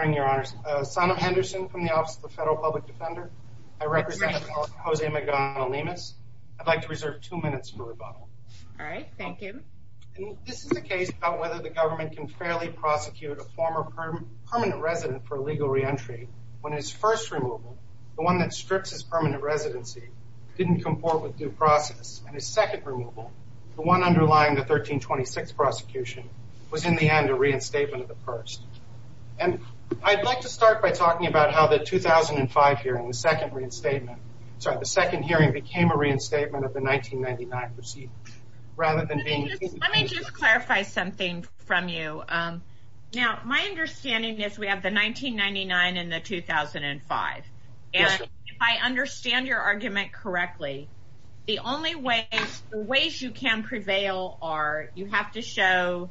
I'd like to reserve two minutes for rebuttal all right thank you and this is the case about whether the government can fairly prosecute a former permanent resident for legal re-entry when his first removal the one that strips his permanent residency didn't comport with due process and his second removal the one underlying the 1326 prosecution was in the end a reinstatement of the first and I'd like to start by talking about how the 2005 hearing the second reinstatement sorry the second hearing became a reinstatement of the 1999 proceeding rather than being let me just clarify something from you um now my understanding is we have the 1999 and the 2005 and if I understand your argument correctly the only way the ways you can prevail are you have to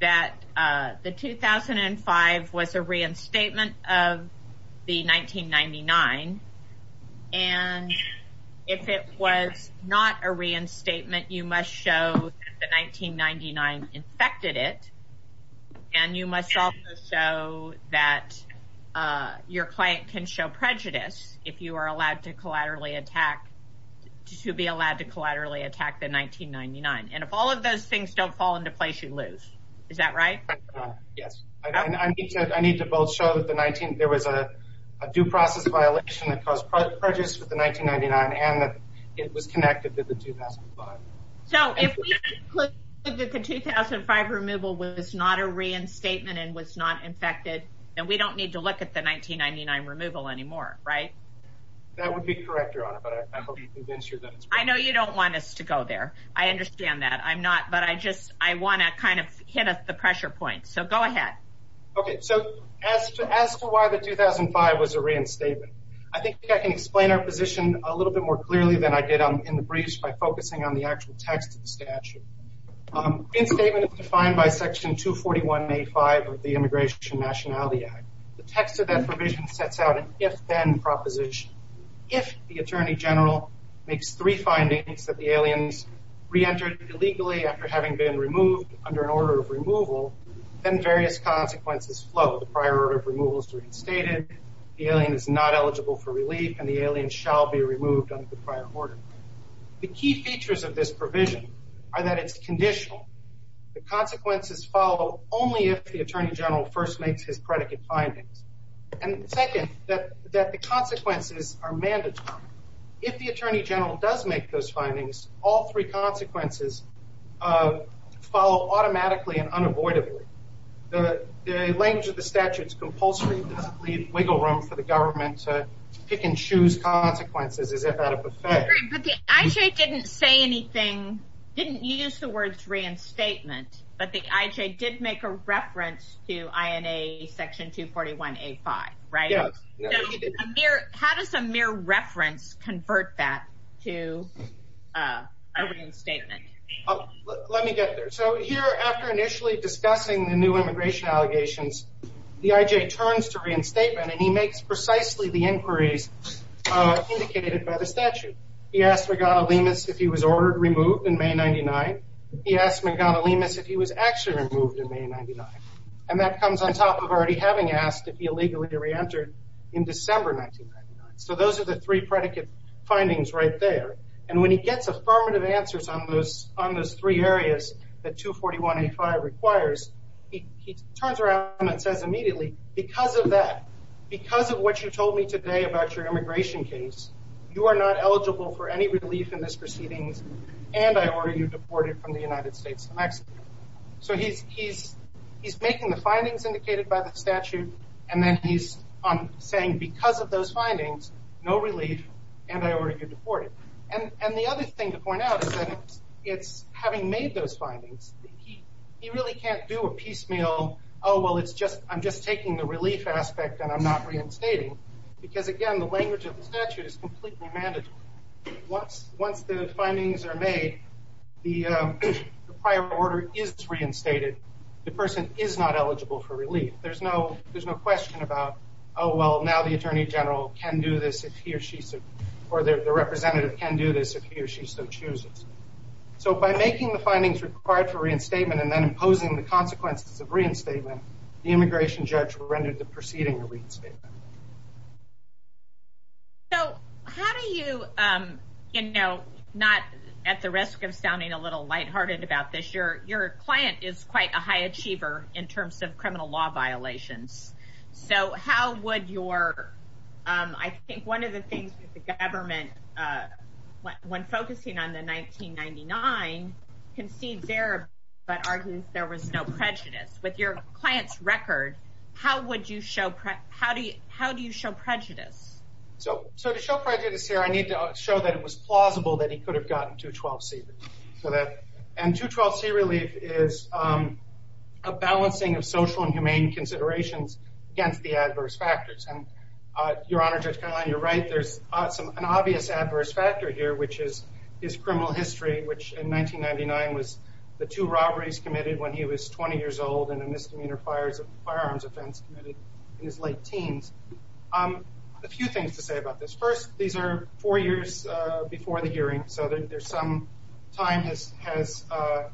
that uh the 2005 was a reinstatement of the 1999 and if it was not a reinstatement you must show the 1999 infected it and you must also show that uh your client can show prejudice if you are allowed to collaterally attack to be allowed to collaterally attack the 1999 and if all of those things don't fall into place you lose is that right yes I mean I need to I need to both show that the 19 there was a due process violation that caused prejudice with the 1999 and that it was connected to the 2005 so if we could that the 2005 removal was not a reinstatement and was not infected and we don't need to look at the 1999 removal anymore right that would be correct I know you don't want us to go there I understand that I'm not but I just I want to kind of hit the pressure point so go ahead okay so as to as to why the 2005 was a reinstatement I think I can explain our position a little bit more clearly than I did on in the breach by focusing on the actual text of the statute um in statement is defined by section 241 a5 of the immigration nationality act the text of that provision sets out an if-then proposition if the attorney general makes three findings that the aliens re-entered illegally after having been removed under an order of removal then various consequences flow the prior order of removal is reinstated the alien is not eligible for relief and the alien shall be removed under the prior order the key features of this provision are that it's conditional the consequences follow only if the attorney general first makes his predicate findings and second that that the consequences are mandatory if the attorney general does make those findings all three consequences uh follow automatically and unavoidably the the language of the statute's compulsory does not leave wiggle room for the government to pick and choose consequences as if at a buffet but the ij didn't say anything didn't use the words reinstatement but the ij did make a reference to ina section 241 a5 right how does a mere reference convert that to uh a reinstatement let me get there so here after initially discussing the new immigration allegations the ij turns to reinstatement and he makes precisely the inquiries uh indicated by the statute he asked regatta lemus if he was ordered removed in may 99 he asked me gotta lemus if he was actually removed in may 99 and that comes on top of already having asked if he illegally re-entered in december 1999 so those are the three predicate findings right there and when he gets affirmative answers on those on those three areas that 241 a5 requires he turns around and says immediately because of that because of what you told me today about your immigration case you are not eligible for any relief in this proceedings and i order you deported from the united states of mexico so he's he's he's making the findings indicated by the statute and then he's um saying because of those findings no relief and i order you deported and and the other thing to point out is that it's having made those findings he he really can't do a piecemeal oh well it's just i'm just taking the relief aspect and i'm not reinstating because again the language of the statute is completely manageable once once the findings are made the prior order is reinstated the person is not eligible for relief there's no there's no question about oh well now the attorney general can do this if he or she said or the representative can do this if he or she so chooses so by making the findings required for reinstatement and then imposing the consequences of reinstatement the immigration judge rendered the proceeding to reinstate so how do you um you know not at the risk of sounding a little lighthearted about this your your client is quite a high achiever in terms of criminal law violations so how would your um i think one of the things that the government uh when focusing on the 1999 concedes error but argues there was no prejudice with your client's record how would you show prep how do you how do you show prejudice so so to show prejudice here i need to show that it was plausible that he could have gotten 212c so that and 212c relief is um a balancing of social and humane considerations against the adverse factors and uh your honor judge caroline you're right there's some an obvious adverse factor here which is his criminal history which in 1999 was the two robberies committed when he was 20 years old and a misdemeanor fires of firearms offense committed in his late teens um a few things to say about this first these are four years uh before the hearing so that there's some time this has uh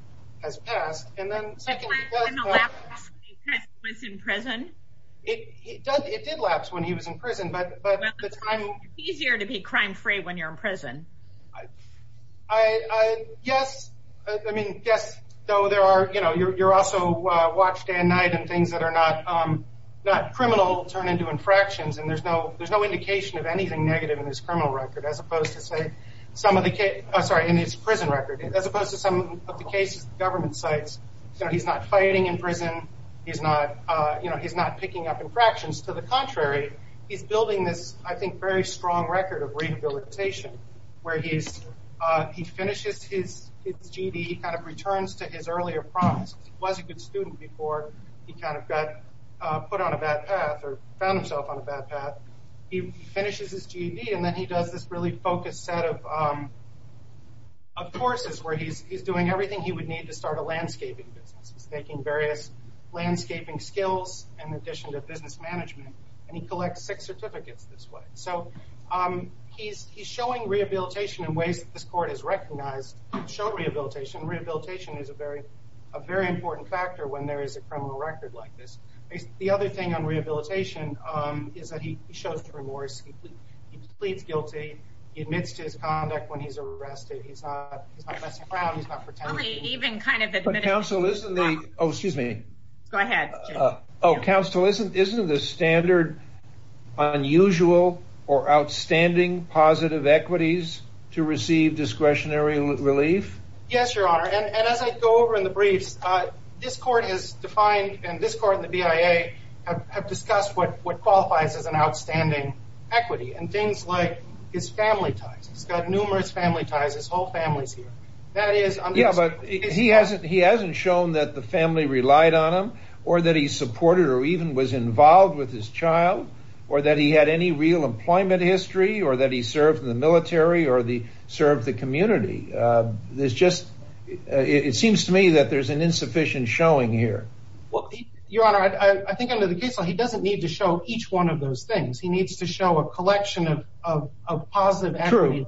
has passed and then secondly when the lapse easier to be crime free when you're in prison i i i yes i mean yes though there are you know you're you're also uh watch dan knight and things that are not um not criminal turn into infractions and there's no there's no indication of anything negative in this criminal record as opposed to say some of the case oh sorry in his prison record as opposed to some of the cases government sites so he's not fighting in prison he's not uh you know he's not picking up infractions to the contrary he's building this i think very strong record of rehabilitation where he's uh he finishes his his gd he kind of returns to his earlier promise he was a good student before he kind of got uh put on a bad path or found himself on a bad path he finishes his gd and then he does this really focused set of um of courses where he's he's doing everything he would need to start a landscaping business he's taking various landscaping skills in addition to business management and he collects six certificates this way so um he's he's showing rehabilitation in ways that this court has recognized show rehabilitation rehabilitation is a very a very important factor when there is a criminal record like this the other thing on rehabilitation um is that he shows remorse he pleads guilty he admits to his conduct when he's arrested he's not he's not messing around he's not pretending even kind of the council isn't the oh excuse me go ahead oh council isn't isn't the standard unusual or outstanding positive equities to receive discretionary relief yes your honor and as i go over in the briefs uh this court has defined and this court the bia have discussed what what qualifies as an outstanding equity and things like his family ties he's got numerous family ties his whole family's here that is yeah but he hasn't he hasn't shown that the family relied on him or that he supported or even was involved with his child or that he had any real employment history or that he served in the military or the served the community uh there's just it seems to me that there's an insufficient showing here well your honor i think under the case law he doesn't need to show each one of those things he needs to show a collection of of positive true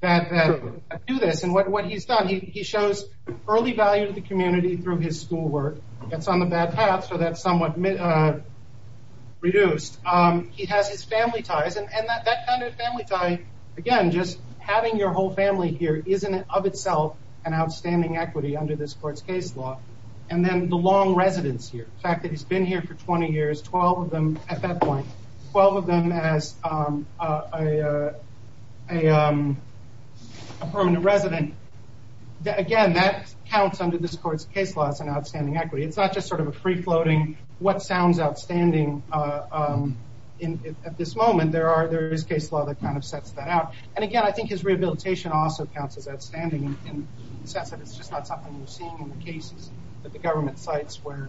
that that do this and what he's done he shows early value to the community through his schoolwork that's on the bad path so that's somewhat uh reduced um he has his family ties and that kind of family time again just having your whole family here isn't of itself an outstanding equity under this court's case law and then the long residence here the fact that he's been here for 20 years 12 of them at that again that counts under this court's case law it's an outstanding equity it's not just sort of a free-floating what sounds outstanding uh um in at this moment there are there is case law that kind of sets that out and again i think his rehabilitation also counts as outstanding in the sense that it's just not something you're seeing in the cases that the government sites where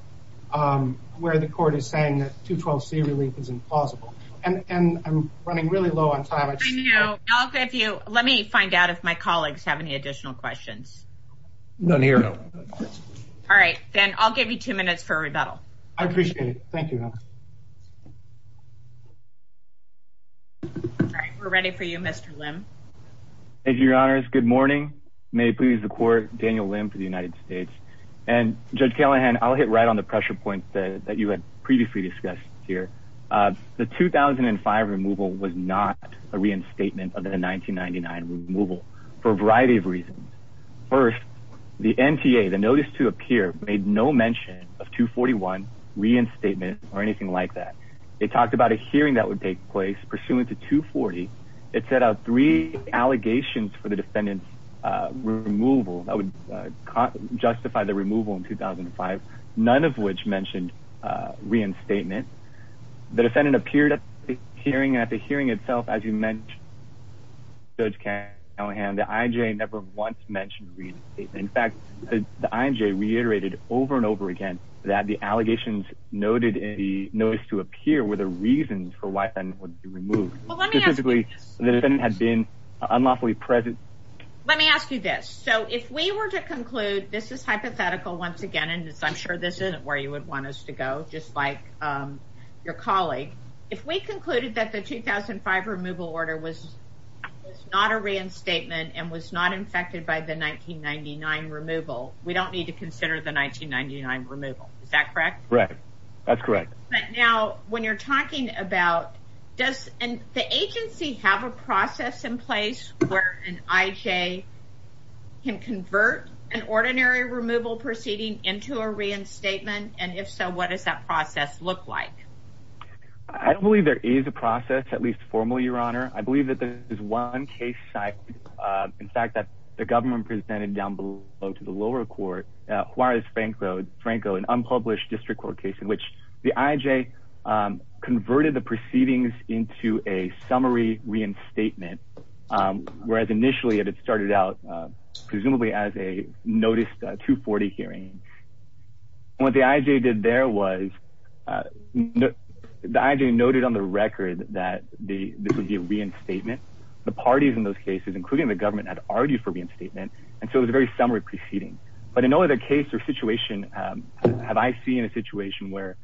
um where the court is saying that 212c relief is implausible and and i'm running really low on time i just know i'll give you let me find out if my colleagues have any additional questions none here all right then i'll give you two minutes for a rebuttal i appreciate it thank you all right we're ready for you mr lim thank you your honors good morning may it please the court daniel limb for the united states and judge callahan i'll hit right on the pressure points that you had previously discussed here uh the 2005 removal was not a reinstatement of the 1999 removal for a variety of reasons first the nta the notice to appear made no mention of 241 reinstatement or anything like that they talked about a hearing that would take place pursuant to 240 it set out three allegations for the defendant's uh removal that would justify the removal in 2005 none of which mentioned uh reinstatement the defendant appeared at the hearing at the hearing itself as you mentioned judge callahan the ij never once mentioned reinstatement in fact the ij reiterated over and over again that the allegations noted in the notice to appear were the reasons for why then would be removed specifically the defendant had been unlawfully present let me ask you this so if we were to conclude this is hypothetical once again and i'm sure this isn't where you would want us to go just like um your colleague if we concluded that the 2005 removal order was not a reinstatement and was not infected by the 1999 removal we don't need to consider the 1999 removal is that correct right that's correct but now when you're talking about does and the agency have a process in place where an ij can convert an ordinary removal proceeding into a reinstatement and if so what does that process look like i don't believe there is a process at least formally your honor i believe that there is one case site uh in fact that the government presented down below to the lower court uh juarez franco franco an unpublished district court case in which the ij um converted the proceedings into a summary reinstatement um whereas initially it started out uh presumably as a 240 hearing what the ij did there was uh the ij noted on the record that the this would be a reinstatement the parties in those cases including the government had argued for reinstatement and so it was a very summary proceeding but in no other case or situation um have i seen a situation where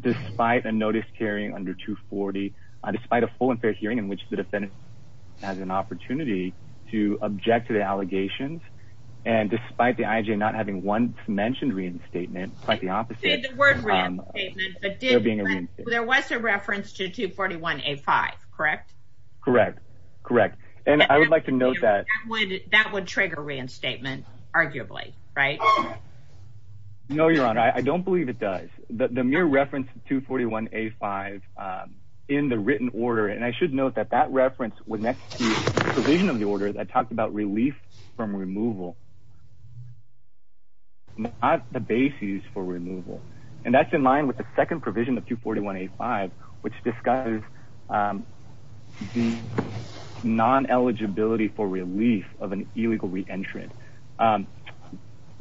despite a notice carrying under 240 despite a full and fair hearing in which the defendant has an opportunity to object to the allegations and despite the ij not having once mentioned reinstatement quite the opposite there was a reference to 241 a5 correct correct correct and i would like to note that would that would trigger reinstatement arguably right no your honor i don't believe it does the mere reference to 241 a5 in the written order and i should note that that reference was next to the provision of the order that talked about relief from removal not the basis for removal and that's in line with the second provision of 241 a5 which discusses um the non-eligibility for relief of an illegal um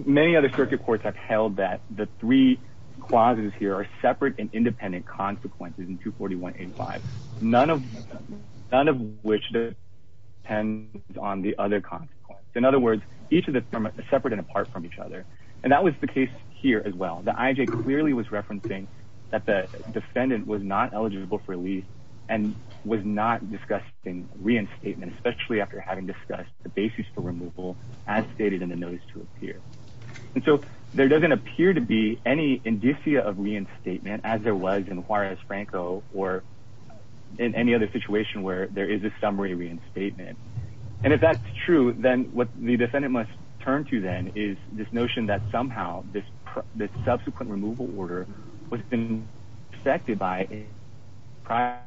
many other circuit courts have held that the three clauses here are separate and independent consequences in 241 a5 none of none of which depends on the other consequence in other words each of the separate and apart from each other and that was the case here as well the ij clearly was referencing that the defendant was not eligible for release and was not discussing reinstatement especially after having discussed the basis for removal as stated in the notice to appear and so there doesn't appear to be any indicia of reinstatement as there was in juarez franco or in any other situation where there is a summary reinstatement and if that's true then what the defendant must turn to then is this notion that somehow this this subsequent removal order was affected by a prior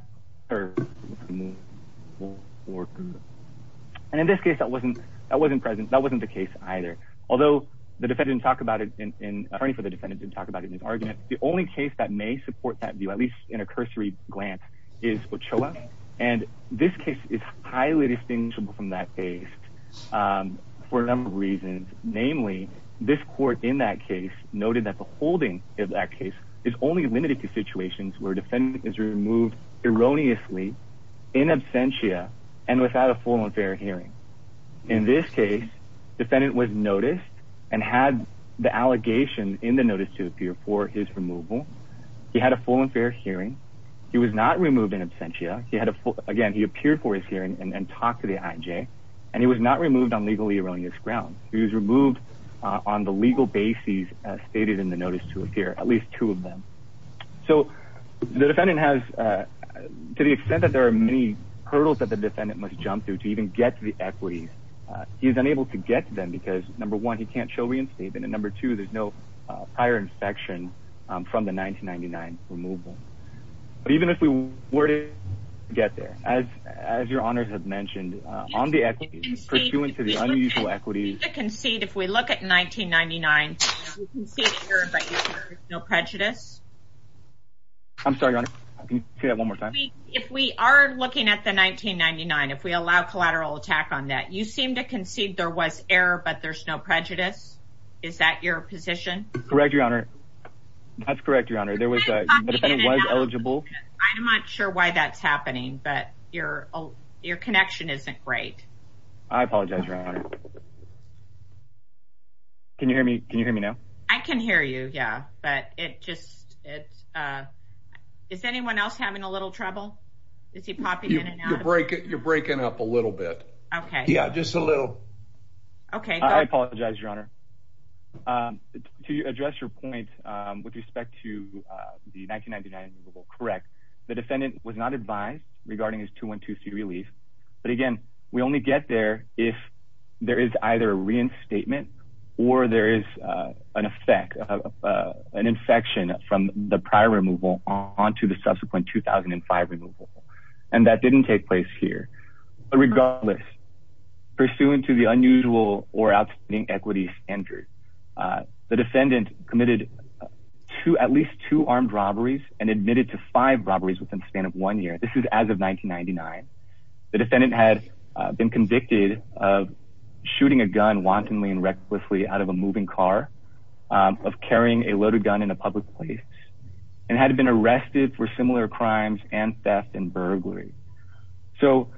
worker and in this case that wasn't that wasn't present that wasn't the case either although the defendant didn't talk about it in attorney for the defendant didn't talk about it in his argument the only case that may support that view at least in a cursory glance is ochoa and this case is highly distinguishable from that case um for a number of reasons namely this court in that case noted that the holding of that case is only limited to situations where defendant is removed erroneously in absentia and without a full and fair hearing in this case defendant was noticed and had the allegation in the notice to appear for his removal he had a full and fair hearing he was not removed in absentia he had a full again he appeared for his hearing and talked to the ij and he was not removed on legally erroneous grounds he was removed on the legal basis as stated in the notice to appear at least two of them so the defendant has uh to the extent that there are many hurdles that the defendant must jump through to even get to the equities uh he's unable to get to them because number one he can't show reinstatement and number two there's no uh prior inspection um from the 1999 removal but even if we were to get there as as your honors have pursuant to the unusual equities to concede if we look at 1999 no prejudice i'm sorry your honor i can say that one more time if we are looking at the 1999 if we allow collateral attack on that you seem to concede there was error but there's no prejudice is that your position correct your honor that's correct your honor there was a defendant was right i apologize your honor can you hear me can you hear me now i can hear you yeah but it just it's uh is anyone else having a little trouble is he popping in and out you're breaking you're breaking up a little bit okay yeah just a little okay i apologize your honor um to address your point um with respect to uh the 1999 correct the defendant was not advised regarding his 212c relief but again we only get there if there is either a reinstatement or there is uh an effect of uh an infection from the prior removal on to the subsequent 2005 removal and that didn't take place here but regardless pursuant to the unusual or outstanding equity standard uh the defendant committed to at least two armed robberies and admitted to five robberies within the span of one year this is as of 1999 the defendant had been convicted of shooting a gun wantonly and recklessly out of a moving car of carrying a loaded gun in a public place and had been arrested for similar crimes and theft and burglary so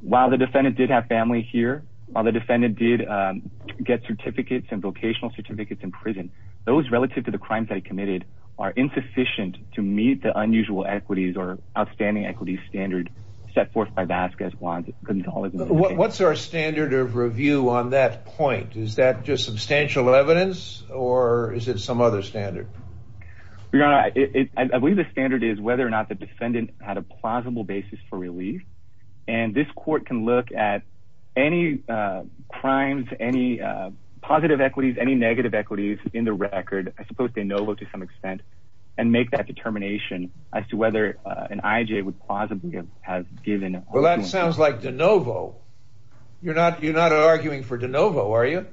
while the defendant did have family here while defendant did um get certificates and vocational certificates in prison those relative to the crimes that he committed are insufficient to meet the unusual equities or outstanding equities standard set forth by vasquez guantanamo what's our standard of review on that point is that just substantial evidence or is it some other standard your honor i believe the standard is whether or not the defendant had a plausible basis for relief and this court can look at any uh crimes any uh positive equities any negative equities in the record i suppose they know to some extent and make that determination as to whether uh an ij would possibly have given well that sounds like de novo you're not you're not arguing for de novo are you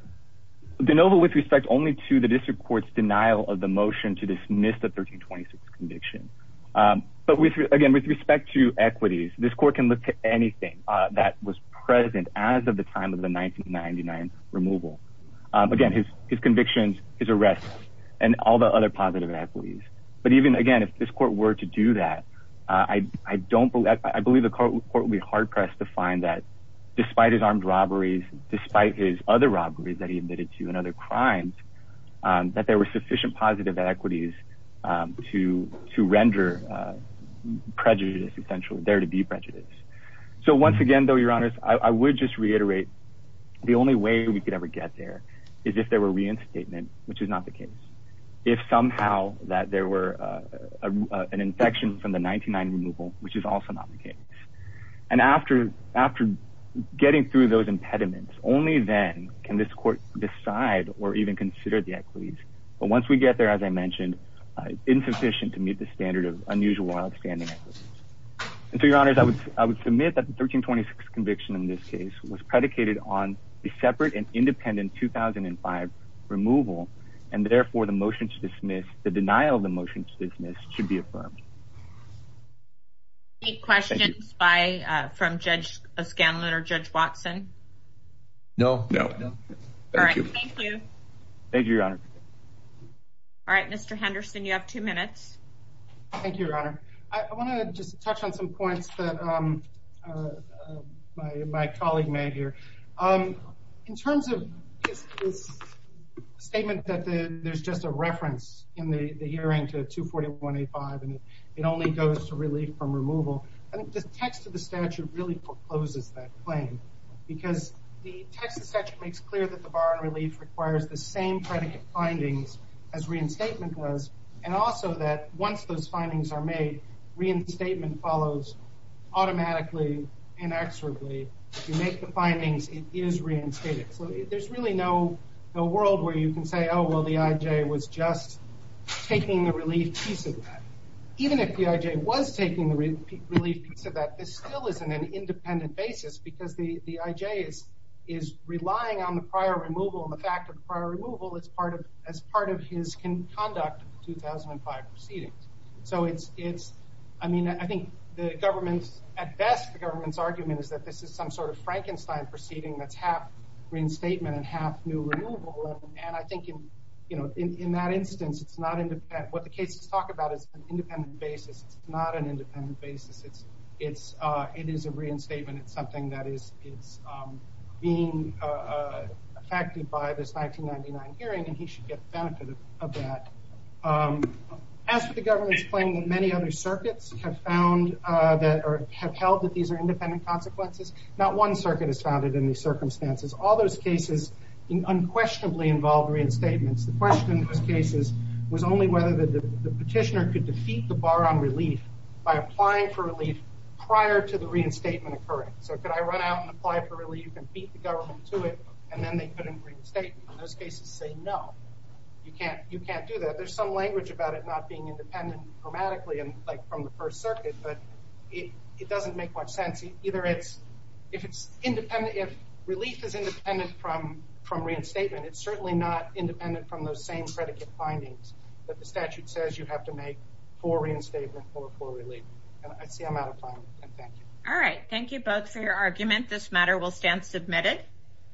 de novo with respect only to the district court's denial of the motion to dismiss the 1326 conviction um but with again with respect to equities this court can look to anything uh that was present as of the time of the 1999 removal um again his his convictions his arrests and all the other positive equities but even again if this court were to do that i i don't believe i believe the court will be hard pressed to find that despite his armed robberies despite his other robberies that he admitted to and other crimes um that there were sufficient positive equities um to to render uh prejudice essentially there to be prejudice so once again though your honors i would just reiterate the only way we could ever get there is if there were reinstatement which is not the case if somehow that there were uh an infection from the 99 removal which is also not the case and after after getting through those impediments only then can this court decide or even consider the equities but once we get there as i mentioned insufficient to meet the was predicated on the separate and independent 2005 removal and therefore the motion to dismiss the denial of the motion to dismiss should be affirmed any questions by uh from judge scanlon or judge watson no no no all right thank you thank you your honor all right mr henderson you have two minutes thank you your honor i want to just touch on some points that um uh my my colleague made here um in terms of this statement that the there's just a reference in the the hearing to 241 85 and it only goes to relief from removal and the text of the statute really forecloses that claim because the text of such makes clear that the bar and relief requires the same predicate findings as reinstatement was and also that once those findings are made reinstatement follows automatically inexorably if you make the findings it is reinstated so there's really no no world where you can say oh well the ij was just taking the relief piece of that even if the ij was taking the relief piece of that this still isn't an independent basis because the the ij is is relying on the prior removal and the fact prior removal as part of as part of his conduct of the 2005 proceedings so it's it's i mean i think the government's at best the government's argument is that this is some sort of frankenstein proceeding that's half reinstatement and half new removal and i think in you know in in that instance it's not independent what the cases talk about is an independent basis it's not an independent basis it's it's uh it is a reinstatement it's something that is it's um being uh affected by this 1999 hearing and he should get the benefit of that um as for the government's claim that many other circuits have found uh that or have held that these are independent consequences not one circuit is founded in these circumstances all those cases unquestionably involve reinstatements the question in those cases was only whether the petitioner could defeat the bar on relief by applying for relief prior to the reinstatement occurring so could i run out and apply for relief beat the government to it and then they couldn't reinstate in those cases say no you can't you can't do that there's some language about it not being independent grammatically and like from the first circuit but it it doesn't make much sense either it's if it's independent if relief is independent from from reinstatement it's certainly not independent from those same predicate findings that the statute says you have to make for reinstatement or for relief and i see i'm out of argument this matter will stand submitted